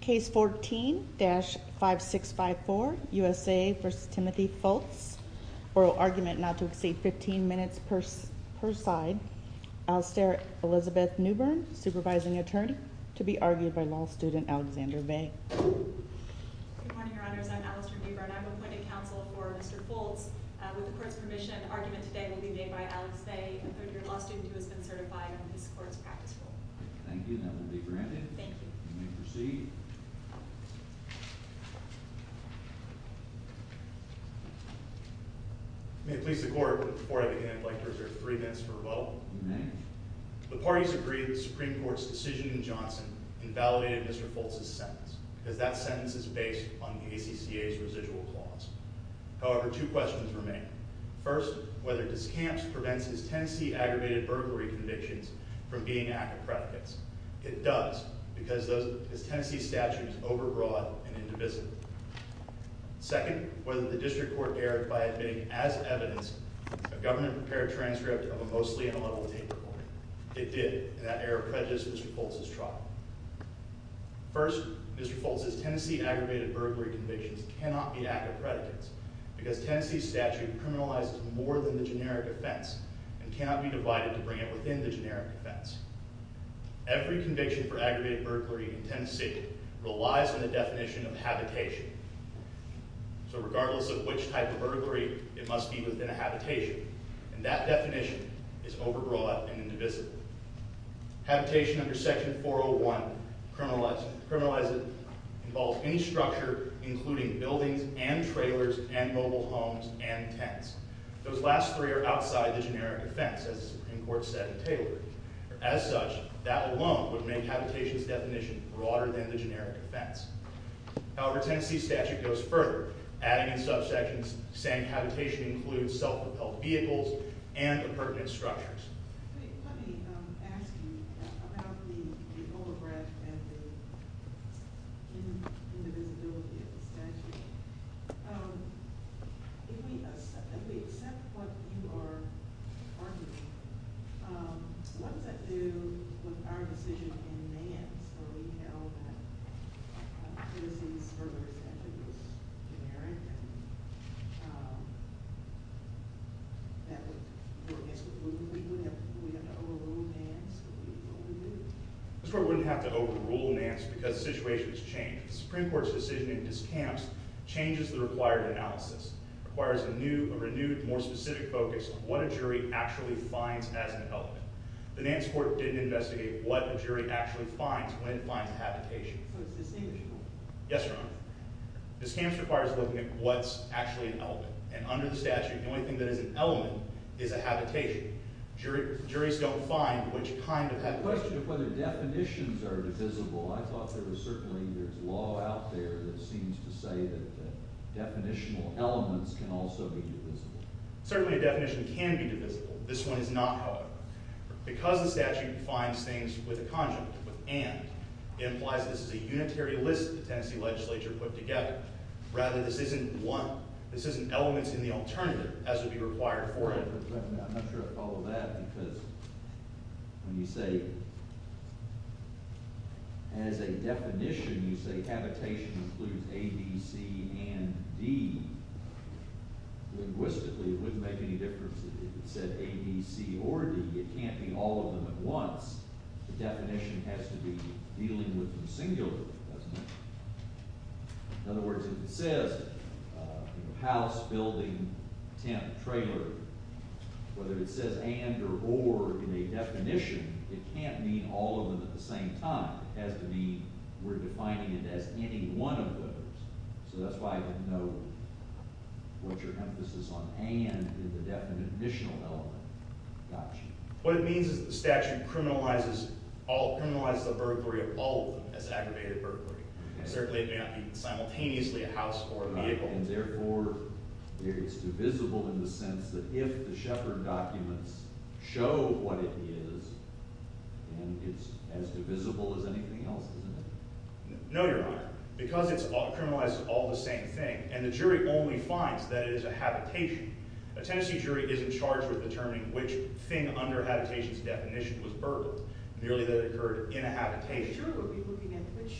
Case 14-5654, USA v. Timothy Fults Oral argument not to exceed 15 minutes per side Alastair Elizabeth Newbern, supervising attorney To be argued by law student Alexander Bay Good morning your honors, I'm Alastair Newbern I'm appointing counsel for Mr. Fults With the court's permission, argument today will be made by Alex Bay A third year law student who has been certified in this court's practice rule Thank you, that will be granted Thank you You may proceed May it please the court Before I begin, I'd like to reserve three minutes for rebuttal You may The parties agree that the Supreme Court's decision in Johnson Invalidated Mr. Fults' sentence Because that sentence is based on the ACCA's residual clause However, two questions remain First, whether Discamps prevents his Tennessee-aggravated burglary convictions From being ACCA predicates It does, because his Tennessee statute is overbroad and indivisible Second, whether the district court erred by admitting as evidence A government-prepared transcript of a mostly ineligible tape recording It did, and that error prejudices Mr. Fults' trial First, Mr. Fults' Tennessee-aggravated burglary convictions cannot be ACCA predicates Because Tennessee's statute criminalizes more than the generic offense And cannot be divided to bring it within the generic offense Every conviction for aggravated burglary in Tennessee relies on the definition of habitation So regardless of which type of burglary, it must be within a habitation And that definition is overbroad and indivisible Habitation under section 401 criminalizes any structure Including buildings and trailers and mobile homes and tents Those last three are outside the generic offense, as the Supreme Court said in Taylor As such, that alone would make habitation's definition broader than the generic offense However, Tennessee's statute goes further Adding in subsections saying habitation includes self-propelled vehicles and appurtenant structures Let me ask you about the overbreadth and the indivisibility of the statute If we accept what you are arguing, what does that do with our decision in May? So we know that Tennessee's murder statute was generic And that would mean we have to overrule Nance? The Supreme Court wouldn't have to overrule Nance because the situation has changed The Supreme Court's decision in discounts changes the required analysis Requires a renewed, more specific focus on what a jury actually finds as an element The Nance court didn't investigate what a jury actually finds when it finds habitation So it's distinguishable? Yes, Your Honor Discounts require looking at what's actually an element And under the statute, the only thing that is an element is a habitation Juries don't find which kind of habitation The question of whether definitions are divisible I thought there was certainly law out there that seems to say that definitional elements can also be divisible Certainly a definition can be divisible This one is not, however Because the statute defines things with a conjunct, with and It implies that this is a unitary list the Tennessee legislature put together Rather, this isn't one This isn't elements in the alternative as would be required for it I'm not sure I follow that because when you say As a definition, you say habitation includes A, B, C, and D Linguistically, it wouldn't make any difference if it said A, B, C, or D It can't be all of them at once The definition has to be dealing with them singularly, doesn't it? In other words, if it says house, building, tent, trailer Whether it says and or or in a definition, it can't mean all of them at the same time It has to mean we're defining it as any one of those So that's why I didn't know what your emphasis on and in the definitional element Gotcha What it means is the statute criminalizes all Criminalizes the burglary of all of them as aggravated burglary Certainly it may not mean simultaneously a house or a vehicle And therefore, it's divisible in the sense that if the Shepard documents show what it is And it's as divisible as anything else, isn't it? No, Your Honor Because it criminalizes all the same thing And the jury only finds that it is a habitation A Tennessee jury isn't charged with determining which thing under habitation's definition was burglary Merely that it occurred in a habitation The jury would be looking at which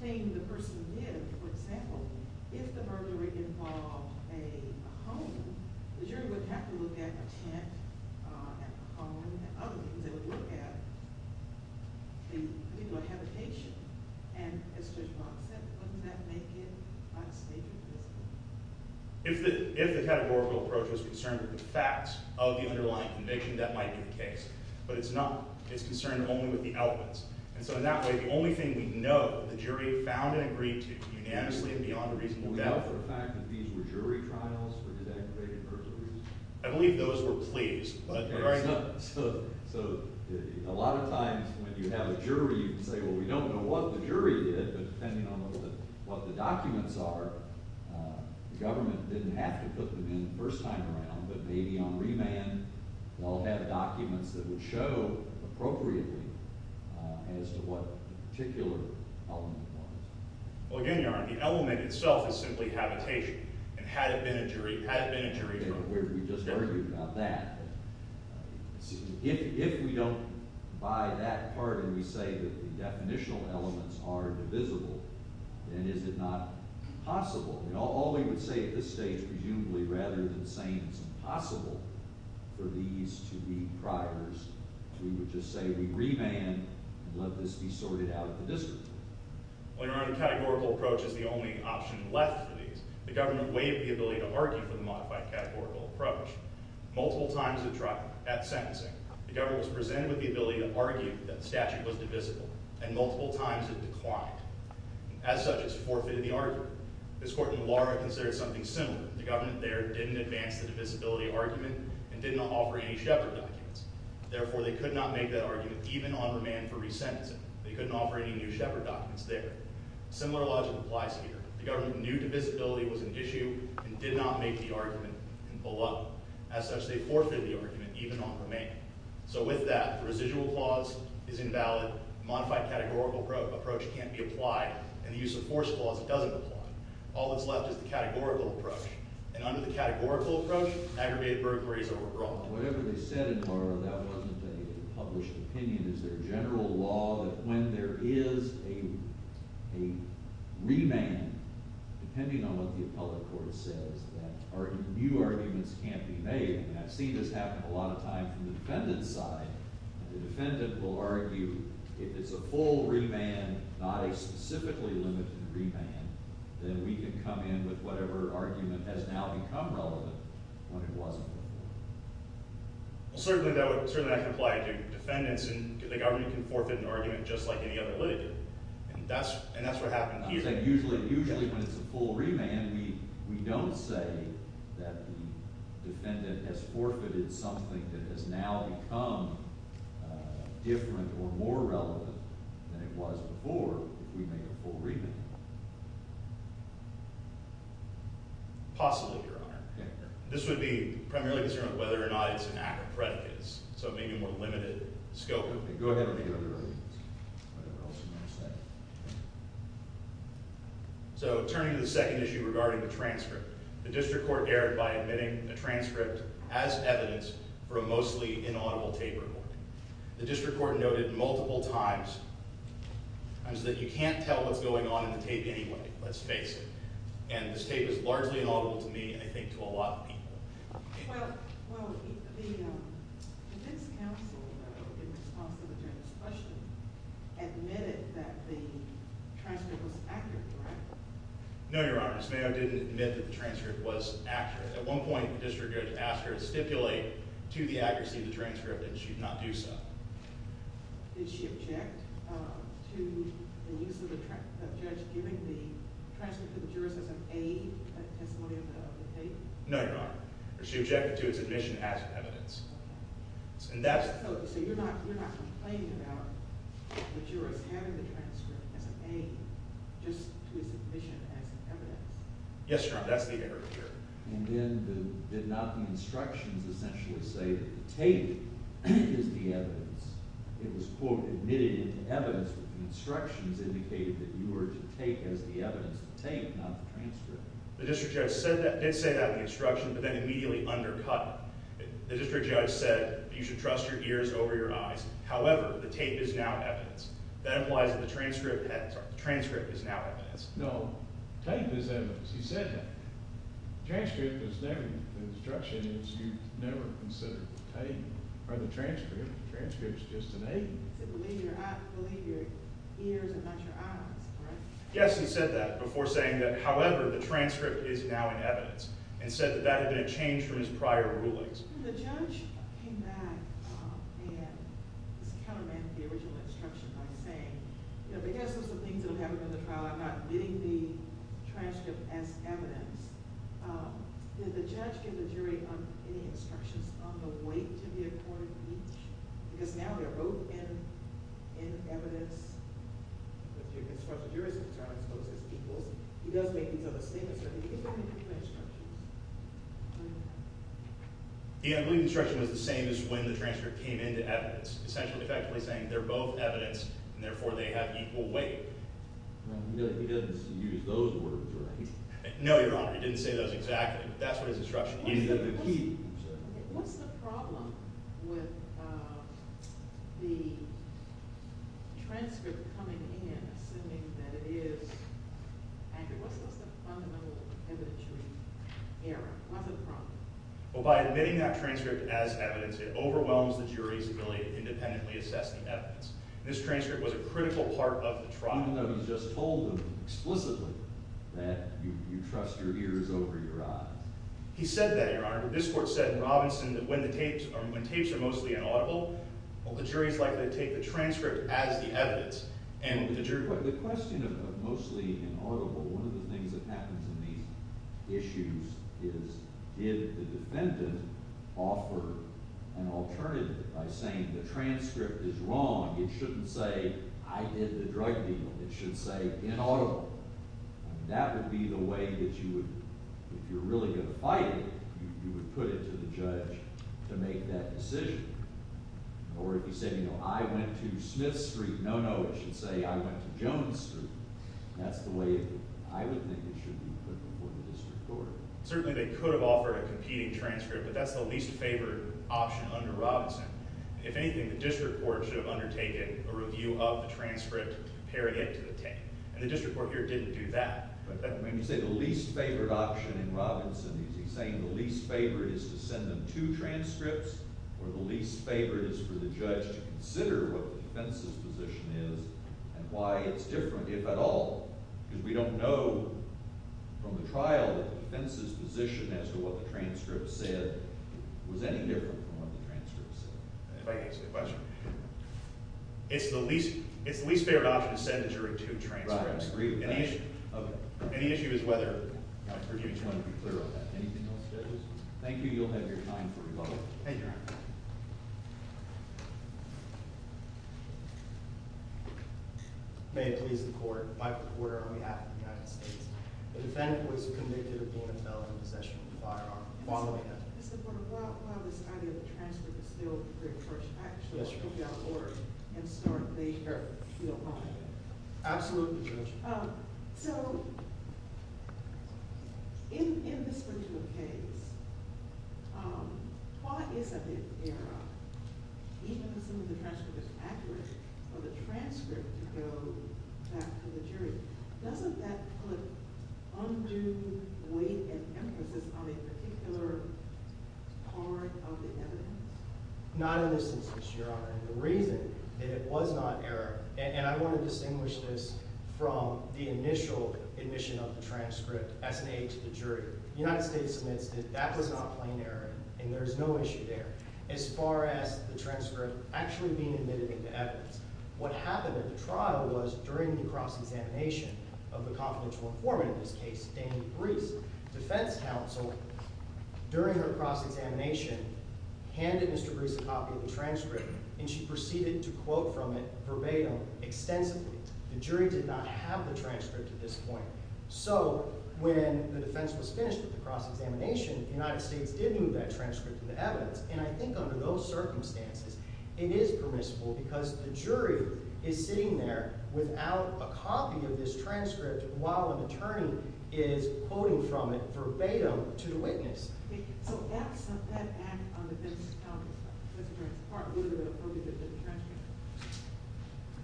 thing the person did For example, if the burglary involved a home The jury would have to look at a tent, a home, and other things They would look at, you know, a habitation And Mr. Johnson, wouldn't that make it unspeakable? If the categorical approach was concerned with the facts of the underlying conviction, that might be the case But it's concerned only with the elements And so in that way, the only thing we know, the jury found and agreed to Unanimously and beyond a reasonable doubt Would we know for a fact that these were jury trials for desegregated burglaries? I believe those were pleas, but We don't know what the jury did, but depending on what the documents are The government didn't have to put them in the first time around But maybe on remand, they'll have documents that would show appropriately As to what particular element it was Well again, Your Honor, the element itself is simply habitation And had it been a jury, had it been a jury We just argued about that If we don't buy that part and we say that the definitional elements are divisible Then is it not possible? All we would say at this stage, presumably, rather than saying it's impossible For these to be priors We would just say we remand and let this be sorted out at the district Well, Your Honor, the categorical approach is the only option left for these The government waived the ability to argue for the modified categorical approach Multiple times at trial, at sentencing The government was presented with the ability to argue that the statute was divisible And multiple times it declined As such, it's forfeited the argument This Court in the law considers something similar The government there didn't advance the divisibility argument And didn't offer any Shepard documents Therefore, they could not make that argument even on remand for resentencing They couldn't offer any new Shepard documents there Similar logic applies here The government knew divisibility was an issue And did not make the argument in the law As such, they forfeited the argument even on remand So with that, the residual clause is invalid The modified categorical approach can't be applied And the use of force clause doesn't apply All that's left is the categorical approach And under the categorical approach, aggravated burglaries are overall Whatever they said, Your Honor, that wasn't a published opinion Is there general law that when there is a remand Depending on what the appellate court says That new arguments can't be made And I've seen this happen a lot of times from the defendant's side And the defendant will argue If it's a full remand, not a specifically limited remand Then we can come in with whatever argument has now become relevant When it wasn't before Well, certainly that can apply to defendants And the government can forfeit an argument just like any other litigant And that's what happened here Usually when it's a full remand We don't say that the defendant has forfeited something That has now become different or more relevant than it was before If we make a full remand Possibly, Your Honor This would be primarily concerned with whether or not it's an act of predicates So maybe a more limited scope Go ahead with the other arguments Whatever else you want to say So, turning to the second issue regarding the transcript The district court erred by admitting a transcript as evidence For a mostly inaudible tape recording The district court noted multiple times That you can't tell what's going on in the tape anyway Let's face it And this tape is largely inaudible to me And I think to a lot of people Well, the defense counsel In response to the attorney's question Admitted that the transcript was accurate, right? No, Your Honor Ms. Mayo didn't admit that the transcript was accurate At one point, the district judge asked her to stipulate To the accuracy of the transcript And she did not do so Did she object to the use of the judge Giving the transcript to the jurors as an aid In the testimony of the tape? No, Your Honor She objected to its admission as evidence So you're not complaining about The jurors having the transcript as an aid Just to its admission as evidence? Yes, Your Honor, that's the error here And then did not the instructions essentially say That the tape is the evidence? It was, quote, admitted as evidence But the instructions indicated That you were to take as the evidence the tape Not the transcript The district judge did say that in the instruction But then immediately undercut it The district judge said You should trust your ears over your eyes However, the tape is now evidence That implies that the transcript is now evidence No, the tape is evidence He said that The transcript is never The instruction is you've never considered the tape Or the transcript The transcript is just an aid So believe your ears and not your eyes, correct? Yes, he said that Before saying that, however, the transcript is now in evidence And said that that had been a change from his prior rulings When the judge came back And discounted the original instruction by saying You know, because those are the things that will happen in the trial I'm not admitting the transcript as evidence Did the judge give the jury any instructions On the weight to be accorded with each? Because now they're both in evidence With your constructive jurors' concerns Both as people He does make these other statements Did he give them any instructions? Yeah, I believe the instruction was the same as when the transcript came into evidence Essentially, effectively saying they're both evidence And therefore they have equal weight He doesn't use those words, right? No, Your Honor, he didn't say those exactly But that's what his instruction was He said What's the problem with the transcript coming in Assuming that it is Andrew, what's the fundamental evidentiary error? What's the problem? Well, by admitting that transcript as evidence It overwhelms the jury's ability to independently assess the evidence This transcript was a critical part of the trial Even though you just told them explicitly That you trust your ears over your eyes He said that, Your Honor But this court said in Robinson That when tapes are mostly inaudible Well, the jury's likely to take the transcript as the evidence The question of mostly inaudible One of the things that happens in these issues Is did the defendant offer an alternative By saying the transcript is wrong It shouldn't say I did the drug deal It should say inaudible And that would be the way that you would If you're really going to fight it You would put it to the judge to make that decision Or if he said, you know, I went to Smith Street No, no, it should say I went to Jones Street That's the way I would think it should be put before the district court Certainly they could have offered a competing transcript But that's the least favored option under Robinson If anything, the district court should have undertaken A review of the transcript to compare it to the tape And the district court here didn't do that When you say the least favored option in Robinson Is he saying the least favored is to send them two transcripts Or the least favored is for the judge to consider What the defense's position is And why it's different, if at all Because we don't know from the trial That the defense's position as to what the transcript said Was any different from what the transcript said If I can ask a question It's the least favored option to send a jury two transcripts Right, I agree with that And the issue is whether I just want to be clear on that Thank you, you'll have your time for rebuttal Thank you, Your Honor May it please the court I fight for the court on behalf of the United States The defendant was convicted of More than felony possession of a firearm Why do I have to Mr. Porter, while this idea of the transcript is still Re-approached, I actually want to go down the board And start later, if you don't mind Absolutely, Judge So, in this particular case Why is it that they're Even assuming the transcript is accurate For the transcript to go back to the jury Doesn't that put undue weight and emphasis On a particular part of the evidence? Not in this instance, Your Honor And the reason that it was not error And I want to distinguish this From the initial admission of the transcript As an aid to the jury The United States admits that that was not plain error And there's no issue there As far as the transcript Actually being admitted into evidence What happened at the trial was During the cross-examination Of the confidential informant In this case, Damien Brees Defense counsel During her cross-examination Handed Mr. Brees a copy of the transcript And she proceeded to quote from it Verbatim, extensively The jury did not have the transcript at this point So, when the defense was finished With the cross-examination The United States did move that transcript To the evidence And I think under those circumstances It is permissible Because the jury is sitting there Without a copy of this transcript While an attorney is quoting from it Verbatim to the witness So, that act on the defense's account As far as the part Would it have been appropriate That the transcript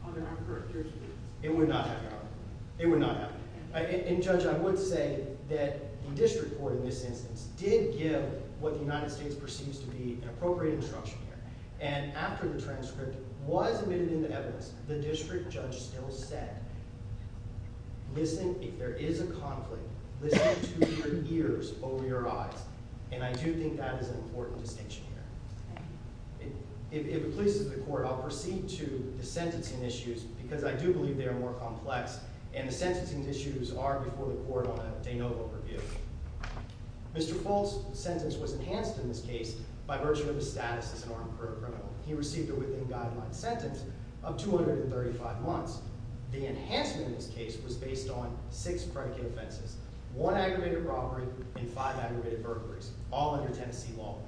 Under our current jurisdiction It would not have, Your Honor It would not have And Judge, I would say That the district court in this instance Did give what the United States Perceives to be An appropriate instruction here And after the transcript Was admitted into evidence The district judge still said Listen, if there is a conflict Listen to your ears over your eyes And I do think That is an important distinction here If it pleases the court I'll proceed to the sentencing issues Because I do believe They are more complex And the sentencing issues Are before the court On a de novo review Mr. Folt's sentence Was enhanced in this case By virtue of his status As an armed career criminal He received a within guideline sentence Of 235 months The enhancement in this case Was based on six predicate offenses One aggravated robbery And five aggravated burglaries All under Tennessee law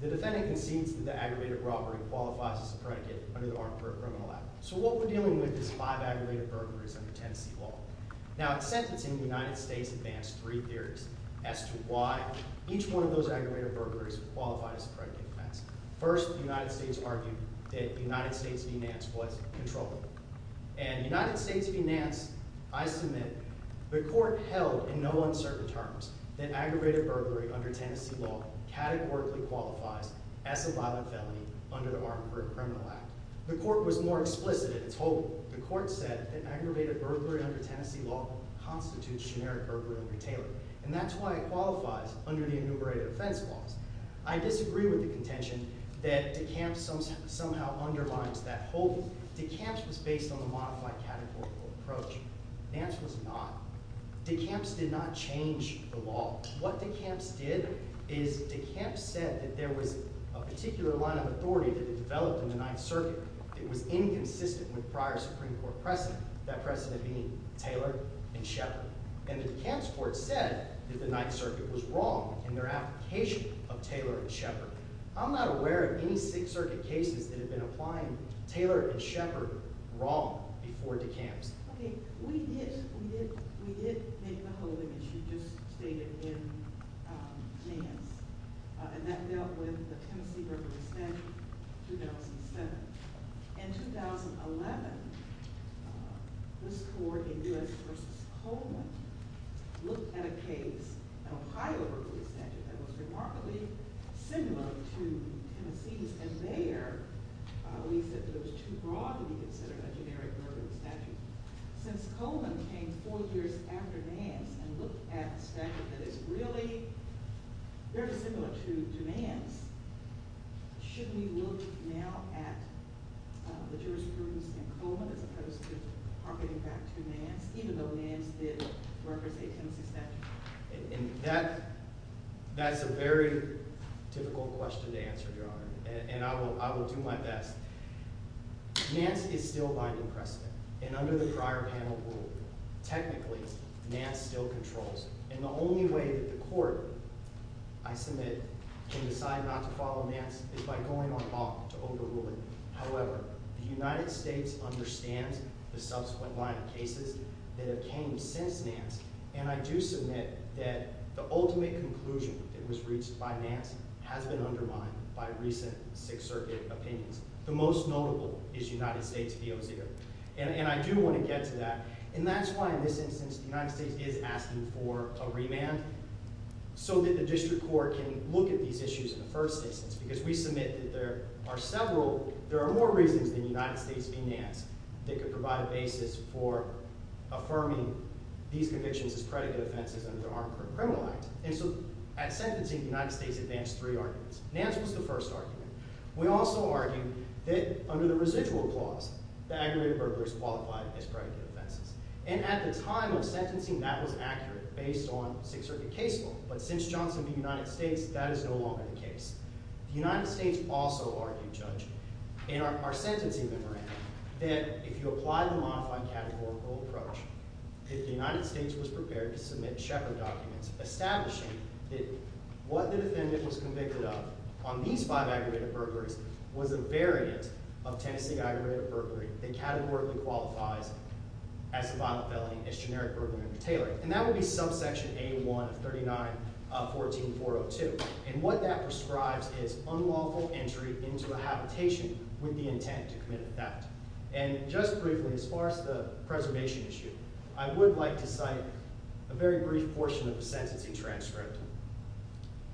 The defendant concedes That the aggravated robbery Qualifies as a predicate Under the armed career criminal act So what we're dealing with Is five aggravated burglaries Under Tennessee law Now, at sentencing The United States advanced Three theories As to why Each one of those Aggravated burglaries Qualified as a predicate offense First, the United States argued That United States finance Was controllable And United States finance I submit The court held In no uncertain terms That aggravated burglary Under Tennessee law Categorically qualifies As a violent felony Under the armed career criminal act The court was more explicit In its holding The court said That aggravated burglary Under Tennessee law Constitutes generic Aggravated burglary And that's why It qualifies Under the enumerated Offense laws I disagree With the contention That DeCamps Somehow underlines That holding DeCamps was based On the modified Categorical approach Nance was not DeCamps did not Change the law What DeCamps did Is DeCamps said That there was A particular line Of authority That had developed In the ninth circuit That was inconsistent With prior Supreme court precedent That precedent being Taylor And Sheppard And the DeCamps Court said That the ninth circuit Was wrong In their application Of Taylor and Sheppard I'm not aware Of any sixth circuit Cases that have been Applying Taylor and Sheppard wrong Before DeCamps Okay We did We did We did make the Holding As you just stated In Nance And that dealt With the Tennessee Burglary statute In 2007 In 2011 This court In U.S. Versus Coleman Looked at a case An Ohio burglary Statute That was remarkably Similar to Tennessee's And there We said That it was Too broad To be considered A generic Burglary statute Since Coleman Came four years After Nance And looked at A statute That is really Very similar To Nance Should we Look now At the Jurisprudence In Coleman As opposed to Targeting back To Nance Even though Nance did Represent Tennessee Statute And that That's a very Difficult question To answer John And I will Do my best Nance is still Binding precedent And under the Prior panel rule Technically Nance still Controls And the only Way that the Court I submit Can decide Not to follow Nance Is by going On off To overrule it However The United States Understands The subsequent Line of cases That have Came since Nance And I do Submit that The ultimate Conclusion That was reached By Nance Has been Undermined By recent Sixth circuit Opinions The most Notable Is United States POZ And I do Want to get To that And that's Why in this Instance The United States is Asking for A remand So that the District court Can look at These issues In the first Instance Because we Submit that There are Several There are More reasons Than the United States Being Nance That can Provide a Basis for Affirming These convictions As predicate Offenses Under the Armed criminal Act And so At sentencing The United States advanced Three arguments Nance was the First argument We also Argued that Under the residual Clause The aggravated Burglaries Qualified as Predicate Offenses And at The time Of sentencing That was Accurate Based on Sixth circuit Case law But since Johnson v. United States That is no Longer the Case law And so The Objection That what The defendant Was convicted Of on These five Aggravated Burglaries Was a Variant of Tennessee Aggravated Burglary That categorically Qualifies As a Violent Felony As generic Burglary And that Would be Subsection A-1 Of 39-14-402 And what I'd like To cite A very Brief portion Of a Sentencing Transcript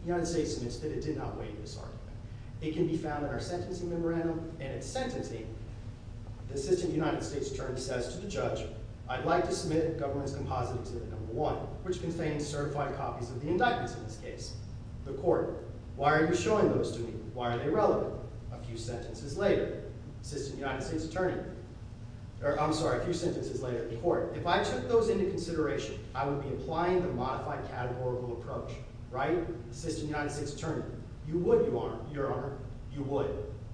The United States Admits that It did Not weight This argument It can Be found In our Sentencing Memorandum And its Sentencing The Assistant United States Attorney Says to The judge I'd like To submit A Certified Copy of The indictments In this Case The court Why are You showing Those to Me Why are They relevant A few Sentences Later Assistant United States Attorney I'm sorry A few Sentences Later The court If I Took those Into consideration I would Like Assistant United States Attorney You would Your honor You would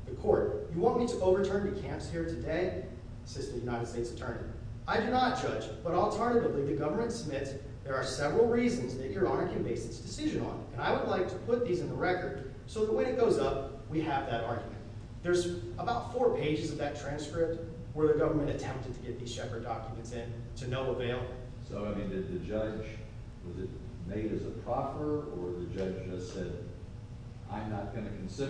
The court You want Me to Overturn The camps Here today Assistant United States Attorney I do Not judge But alternatively The government Submits There are Several reasons That your Honor can Base its Decision On And I Would like To put These in The record So that when It goes Up we Have that Argument There's about Four pages Of that Transcript Where the Government Attempted To get These Shepherd Documents In to No Availability So I Mean did The judge Was it The Court Ultimately Says I'm not Going to Accept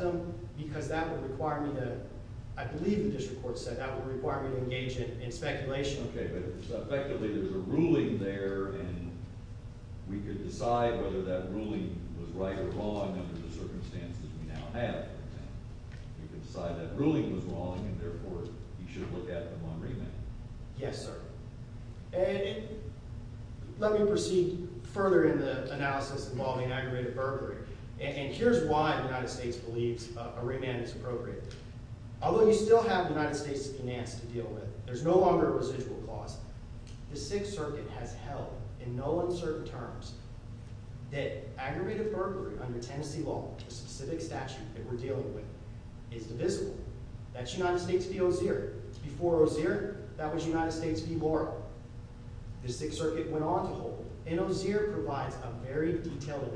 them Because that Would require Me to I believe The district Court said That would Require me To engage In Speculation Okay but Effectively There's a Ruling there And we Could decide Whether that Ruling Was right Or wrong Under the Tennessee Law Okay Let me Proceed Further In the Analysis Involving Aggravated Burglary And here's Why the United States Believes A remand Is appropriate Although You still Have the United States Finance To deal With There's No longer A residual Cause The Sixth Circuit Has held In no Uncertain Terms That Aggravated Burglary Under Tennessee Law Is divisible That's United States v. Ozier Before Ozier That was United States v. Laurel The Sixth Circuit Uncertain Terms That Aggravated Burglary Under Tennessee That's United States v. Ozier That was United States v. Laurel The Sixth Circuit Has held In no Uncertain Terms That Aggravated Burglary Under Tennessee Law Is divisible That's v. Ozier That was United States v. Laurel The Sixth Circuit Uncertain Terms That Aggravated Burglary Under Tennessee Law Is divisible That's Terms That Aggravated Burglary Under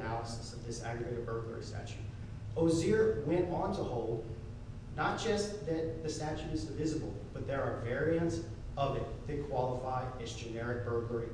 Tennessee Law Is divisible v. Ozier That was United States v. Laurel The Sixth Circuit Uncertain Terms That Aggravated Burglary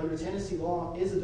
Under Tennessee Law Is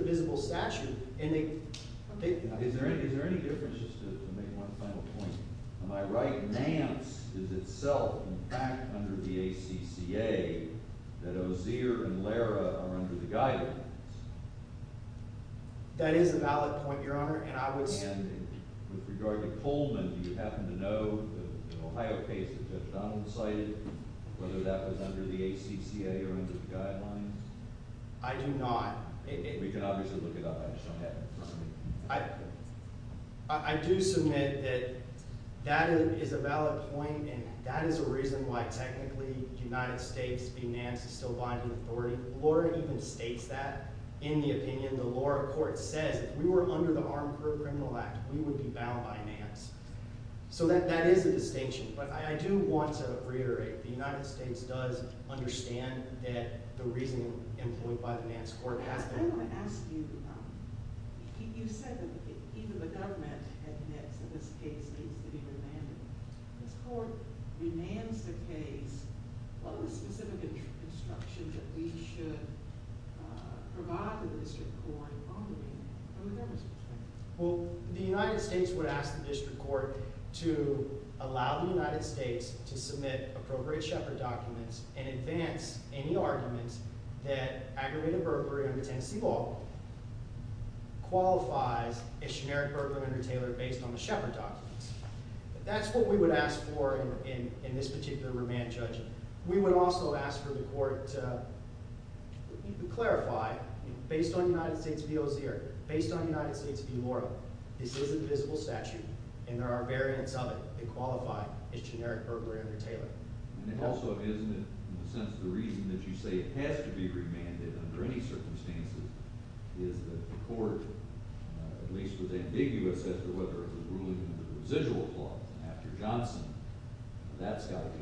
Divisible That's v. Circuit Under Tennessee Law Is Divisible That's Terms That Aggravated Burglary Under Tennessee Law Is Divisible That's Amplified Law Is Divisible That's That's Ok Divisible That's Amplified That's We Have Repair Credit Probability Amplified Law Amplified Credit Probability Document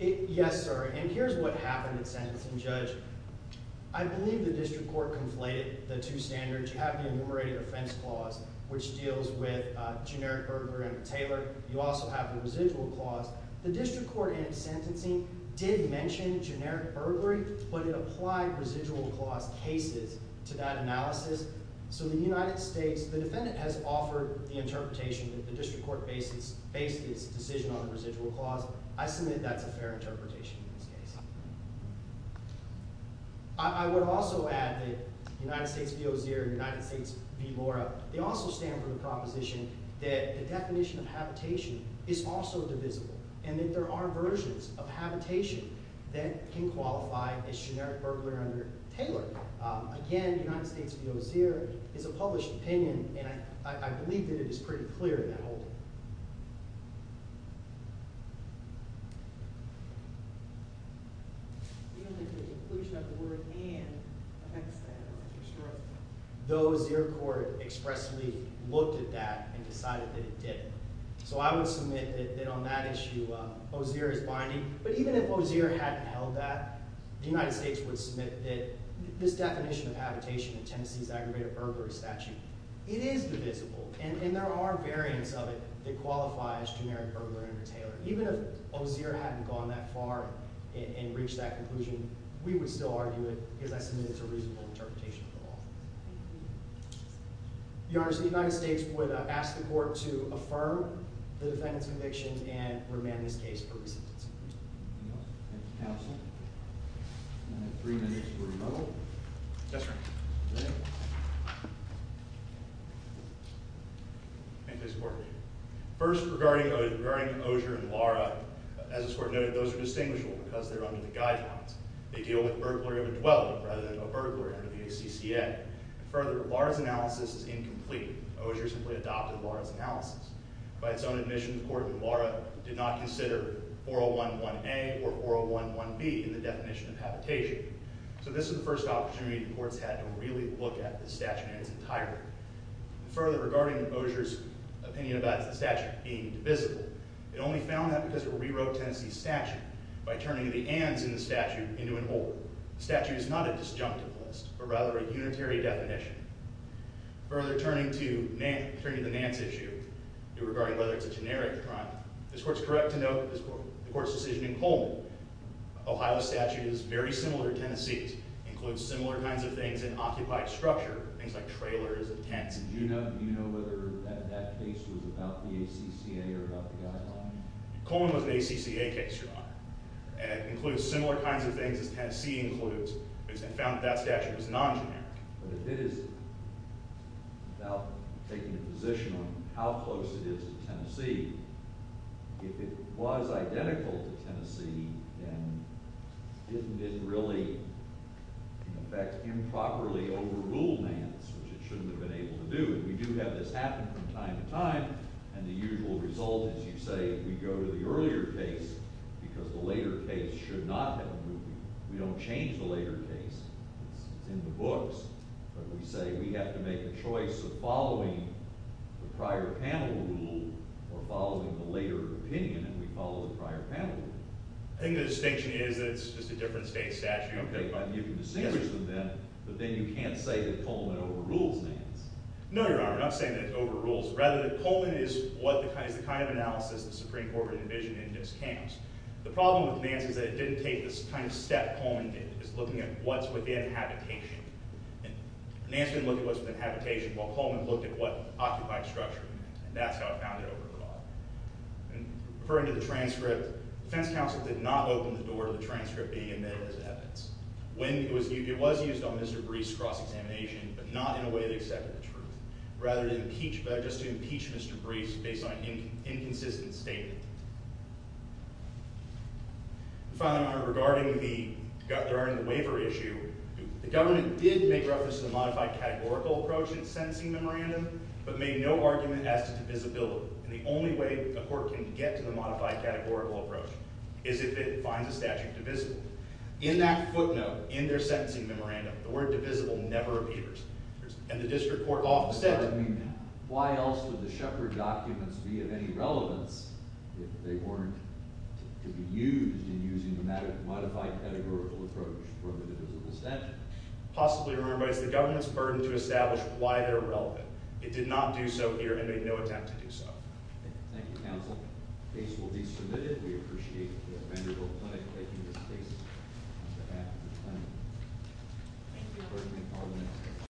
K Yes, sir. And here's what happened at sentencing, Judge. I believe the district court conflated the two standards. You have the enumerated offense clause, which deals with generic burglary under Taylor. You also have the residual clause. The district court in its sentencing did mention generic burglary, but it applied residual clause cases to that analysis. So the United States, the defendant has offered the interpretation that the district court based its decision on the residual clause. I submit that's a fair interpretation in this case. I would also add that United States v. Ozier and United States v. Laura, they also stand for the proposition that the definition of habitation is also divisible and that there are versions of habitation that can qualify as generic burglary under Taylor. Again, United States v. Ozier is a published opinion, and I believe that it is pretty clear in that whole thing. Do you think the inclusion of the word and affects that? The Ozier court expressly looked at that and decided that it didn't. So I would submit that on that issue, Ozier is binding. But even if Ozier hadn't held that, the United States would submit that this definition of habitation in Tennessee's aggravated burglary statute, it is divisible, and there are variants of it that qualify as generic burglary under Taylor. Even if Ozier hadn't gone that far and reached that conclusion, we would still argue it because I submit it's a reasonable interpretation of the law. Your Honor, so the United States would ask the court to affirm the defendant's conviction and remand this case for recidivism. Thank you, counsel. I have three minutes for rebuttal. Yes, sir. First, regarding Ozier and Laura, as the court noted, those are distinguishable because they deal with burglary of a dweller rather than a burglar under the ACCA. Further, Laura's analysis is incomplete. Ozier simply adopted Laura's analysis. By its own admission, the court in Laura did not consider 401a or 401b in the definition of habitation. So this is the first opportunity the court's had to really look at the statute in its entirety. Further, regarding Ozier's opinion about the statute being divisible, it only found that because it rewrote Tennessee's statute by turning the ands in the statute into an or. The statute is not a disjunctivist, but rather a unitary definition. Further, turning to the Nance issue regarding whether it's a generic crime, this court's correct to note that the court's decision in Coleman, Ohio's statute is very similar to Tennessee's, includes similar kinds of things in occupied structure, things like trailers and tents. Do you know whether that case was about the ACCA or about the guidelines? Coleman was an ACCA case, Your Honor, and includes similar kinds of things as Tennessee includes, and found that that statute was non-generic. But if it is about taking a position on how close it is to Tennessee, if it was identical to Tennessee, then didn't it really, in effect, improperly overrule Nance, which it shouldn't have been able to do? And we do have this happen from time to time, and the usual result is, you say, we go to the earlier case because the later case should not have been reviewed. We don't change the later case. It's in the books. But we say we have to make a choice of following the prior panel rule or following the later opinion, and we follow the prior panel rule. I think the distinction is that it's just a different state statute. Okay, but you can distinguish them then, but then you can't say that Coleman overrules Nance. No, Your Honor, I'm not saying that it overrules. Rather, Coleman is the kind of analysis the Supreme Court would envision in Nance's case. The problem with Nance is that it didn't take the kind of step Coleman did. It was looking at what's within habitation. Nance didn't look at what's within habitation, while Coleman looked at what occupied structure, and that's how it found it over the law. Referring to the transcript, the defense counsel did not open the door to the transcript being admitted as evidence. It was used on Mr. Breese's cross-examination, but not in a way that accepted the truth, rather just to impeach Mr. Breese based on an inconsistent statement. Finally, Your Honor, regarding the waiver issue, the government did make reference to the modified categorical approach in the sentencing memorandum, but made no argument as to divisibility, and the only way a court can get to the modified categorical approach is if it finds a statute divisible. In that footnote in their sentencing memorandum, the word divisible never appears, and the district court law of the statute... I mean, why else would the Shepard documents be of any relevance if they weren't to be used in using the modified categorical approach for the divisible statute? Possibly, Your Honor, but it's the government's burden to establish why they're relevant. It did not do so here, and made no attempt to do so. Thank you, counsel. The case will be submitted. We appreciate the Vanderbilt Clinic taking this case on behalf of the clinic. Thank you.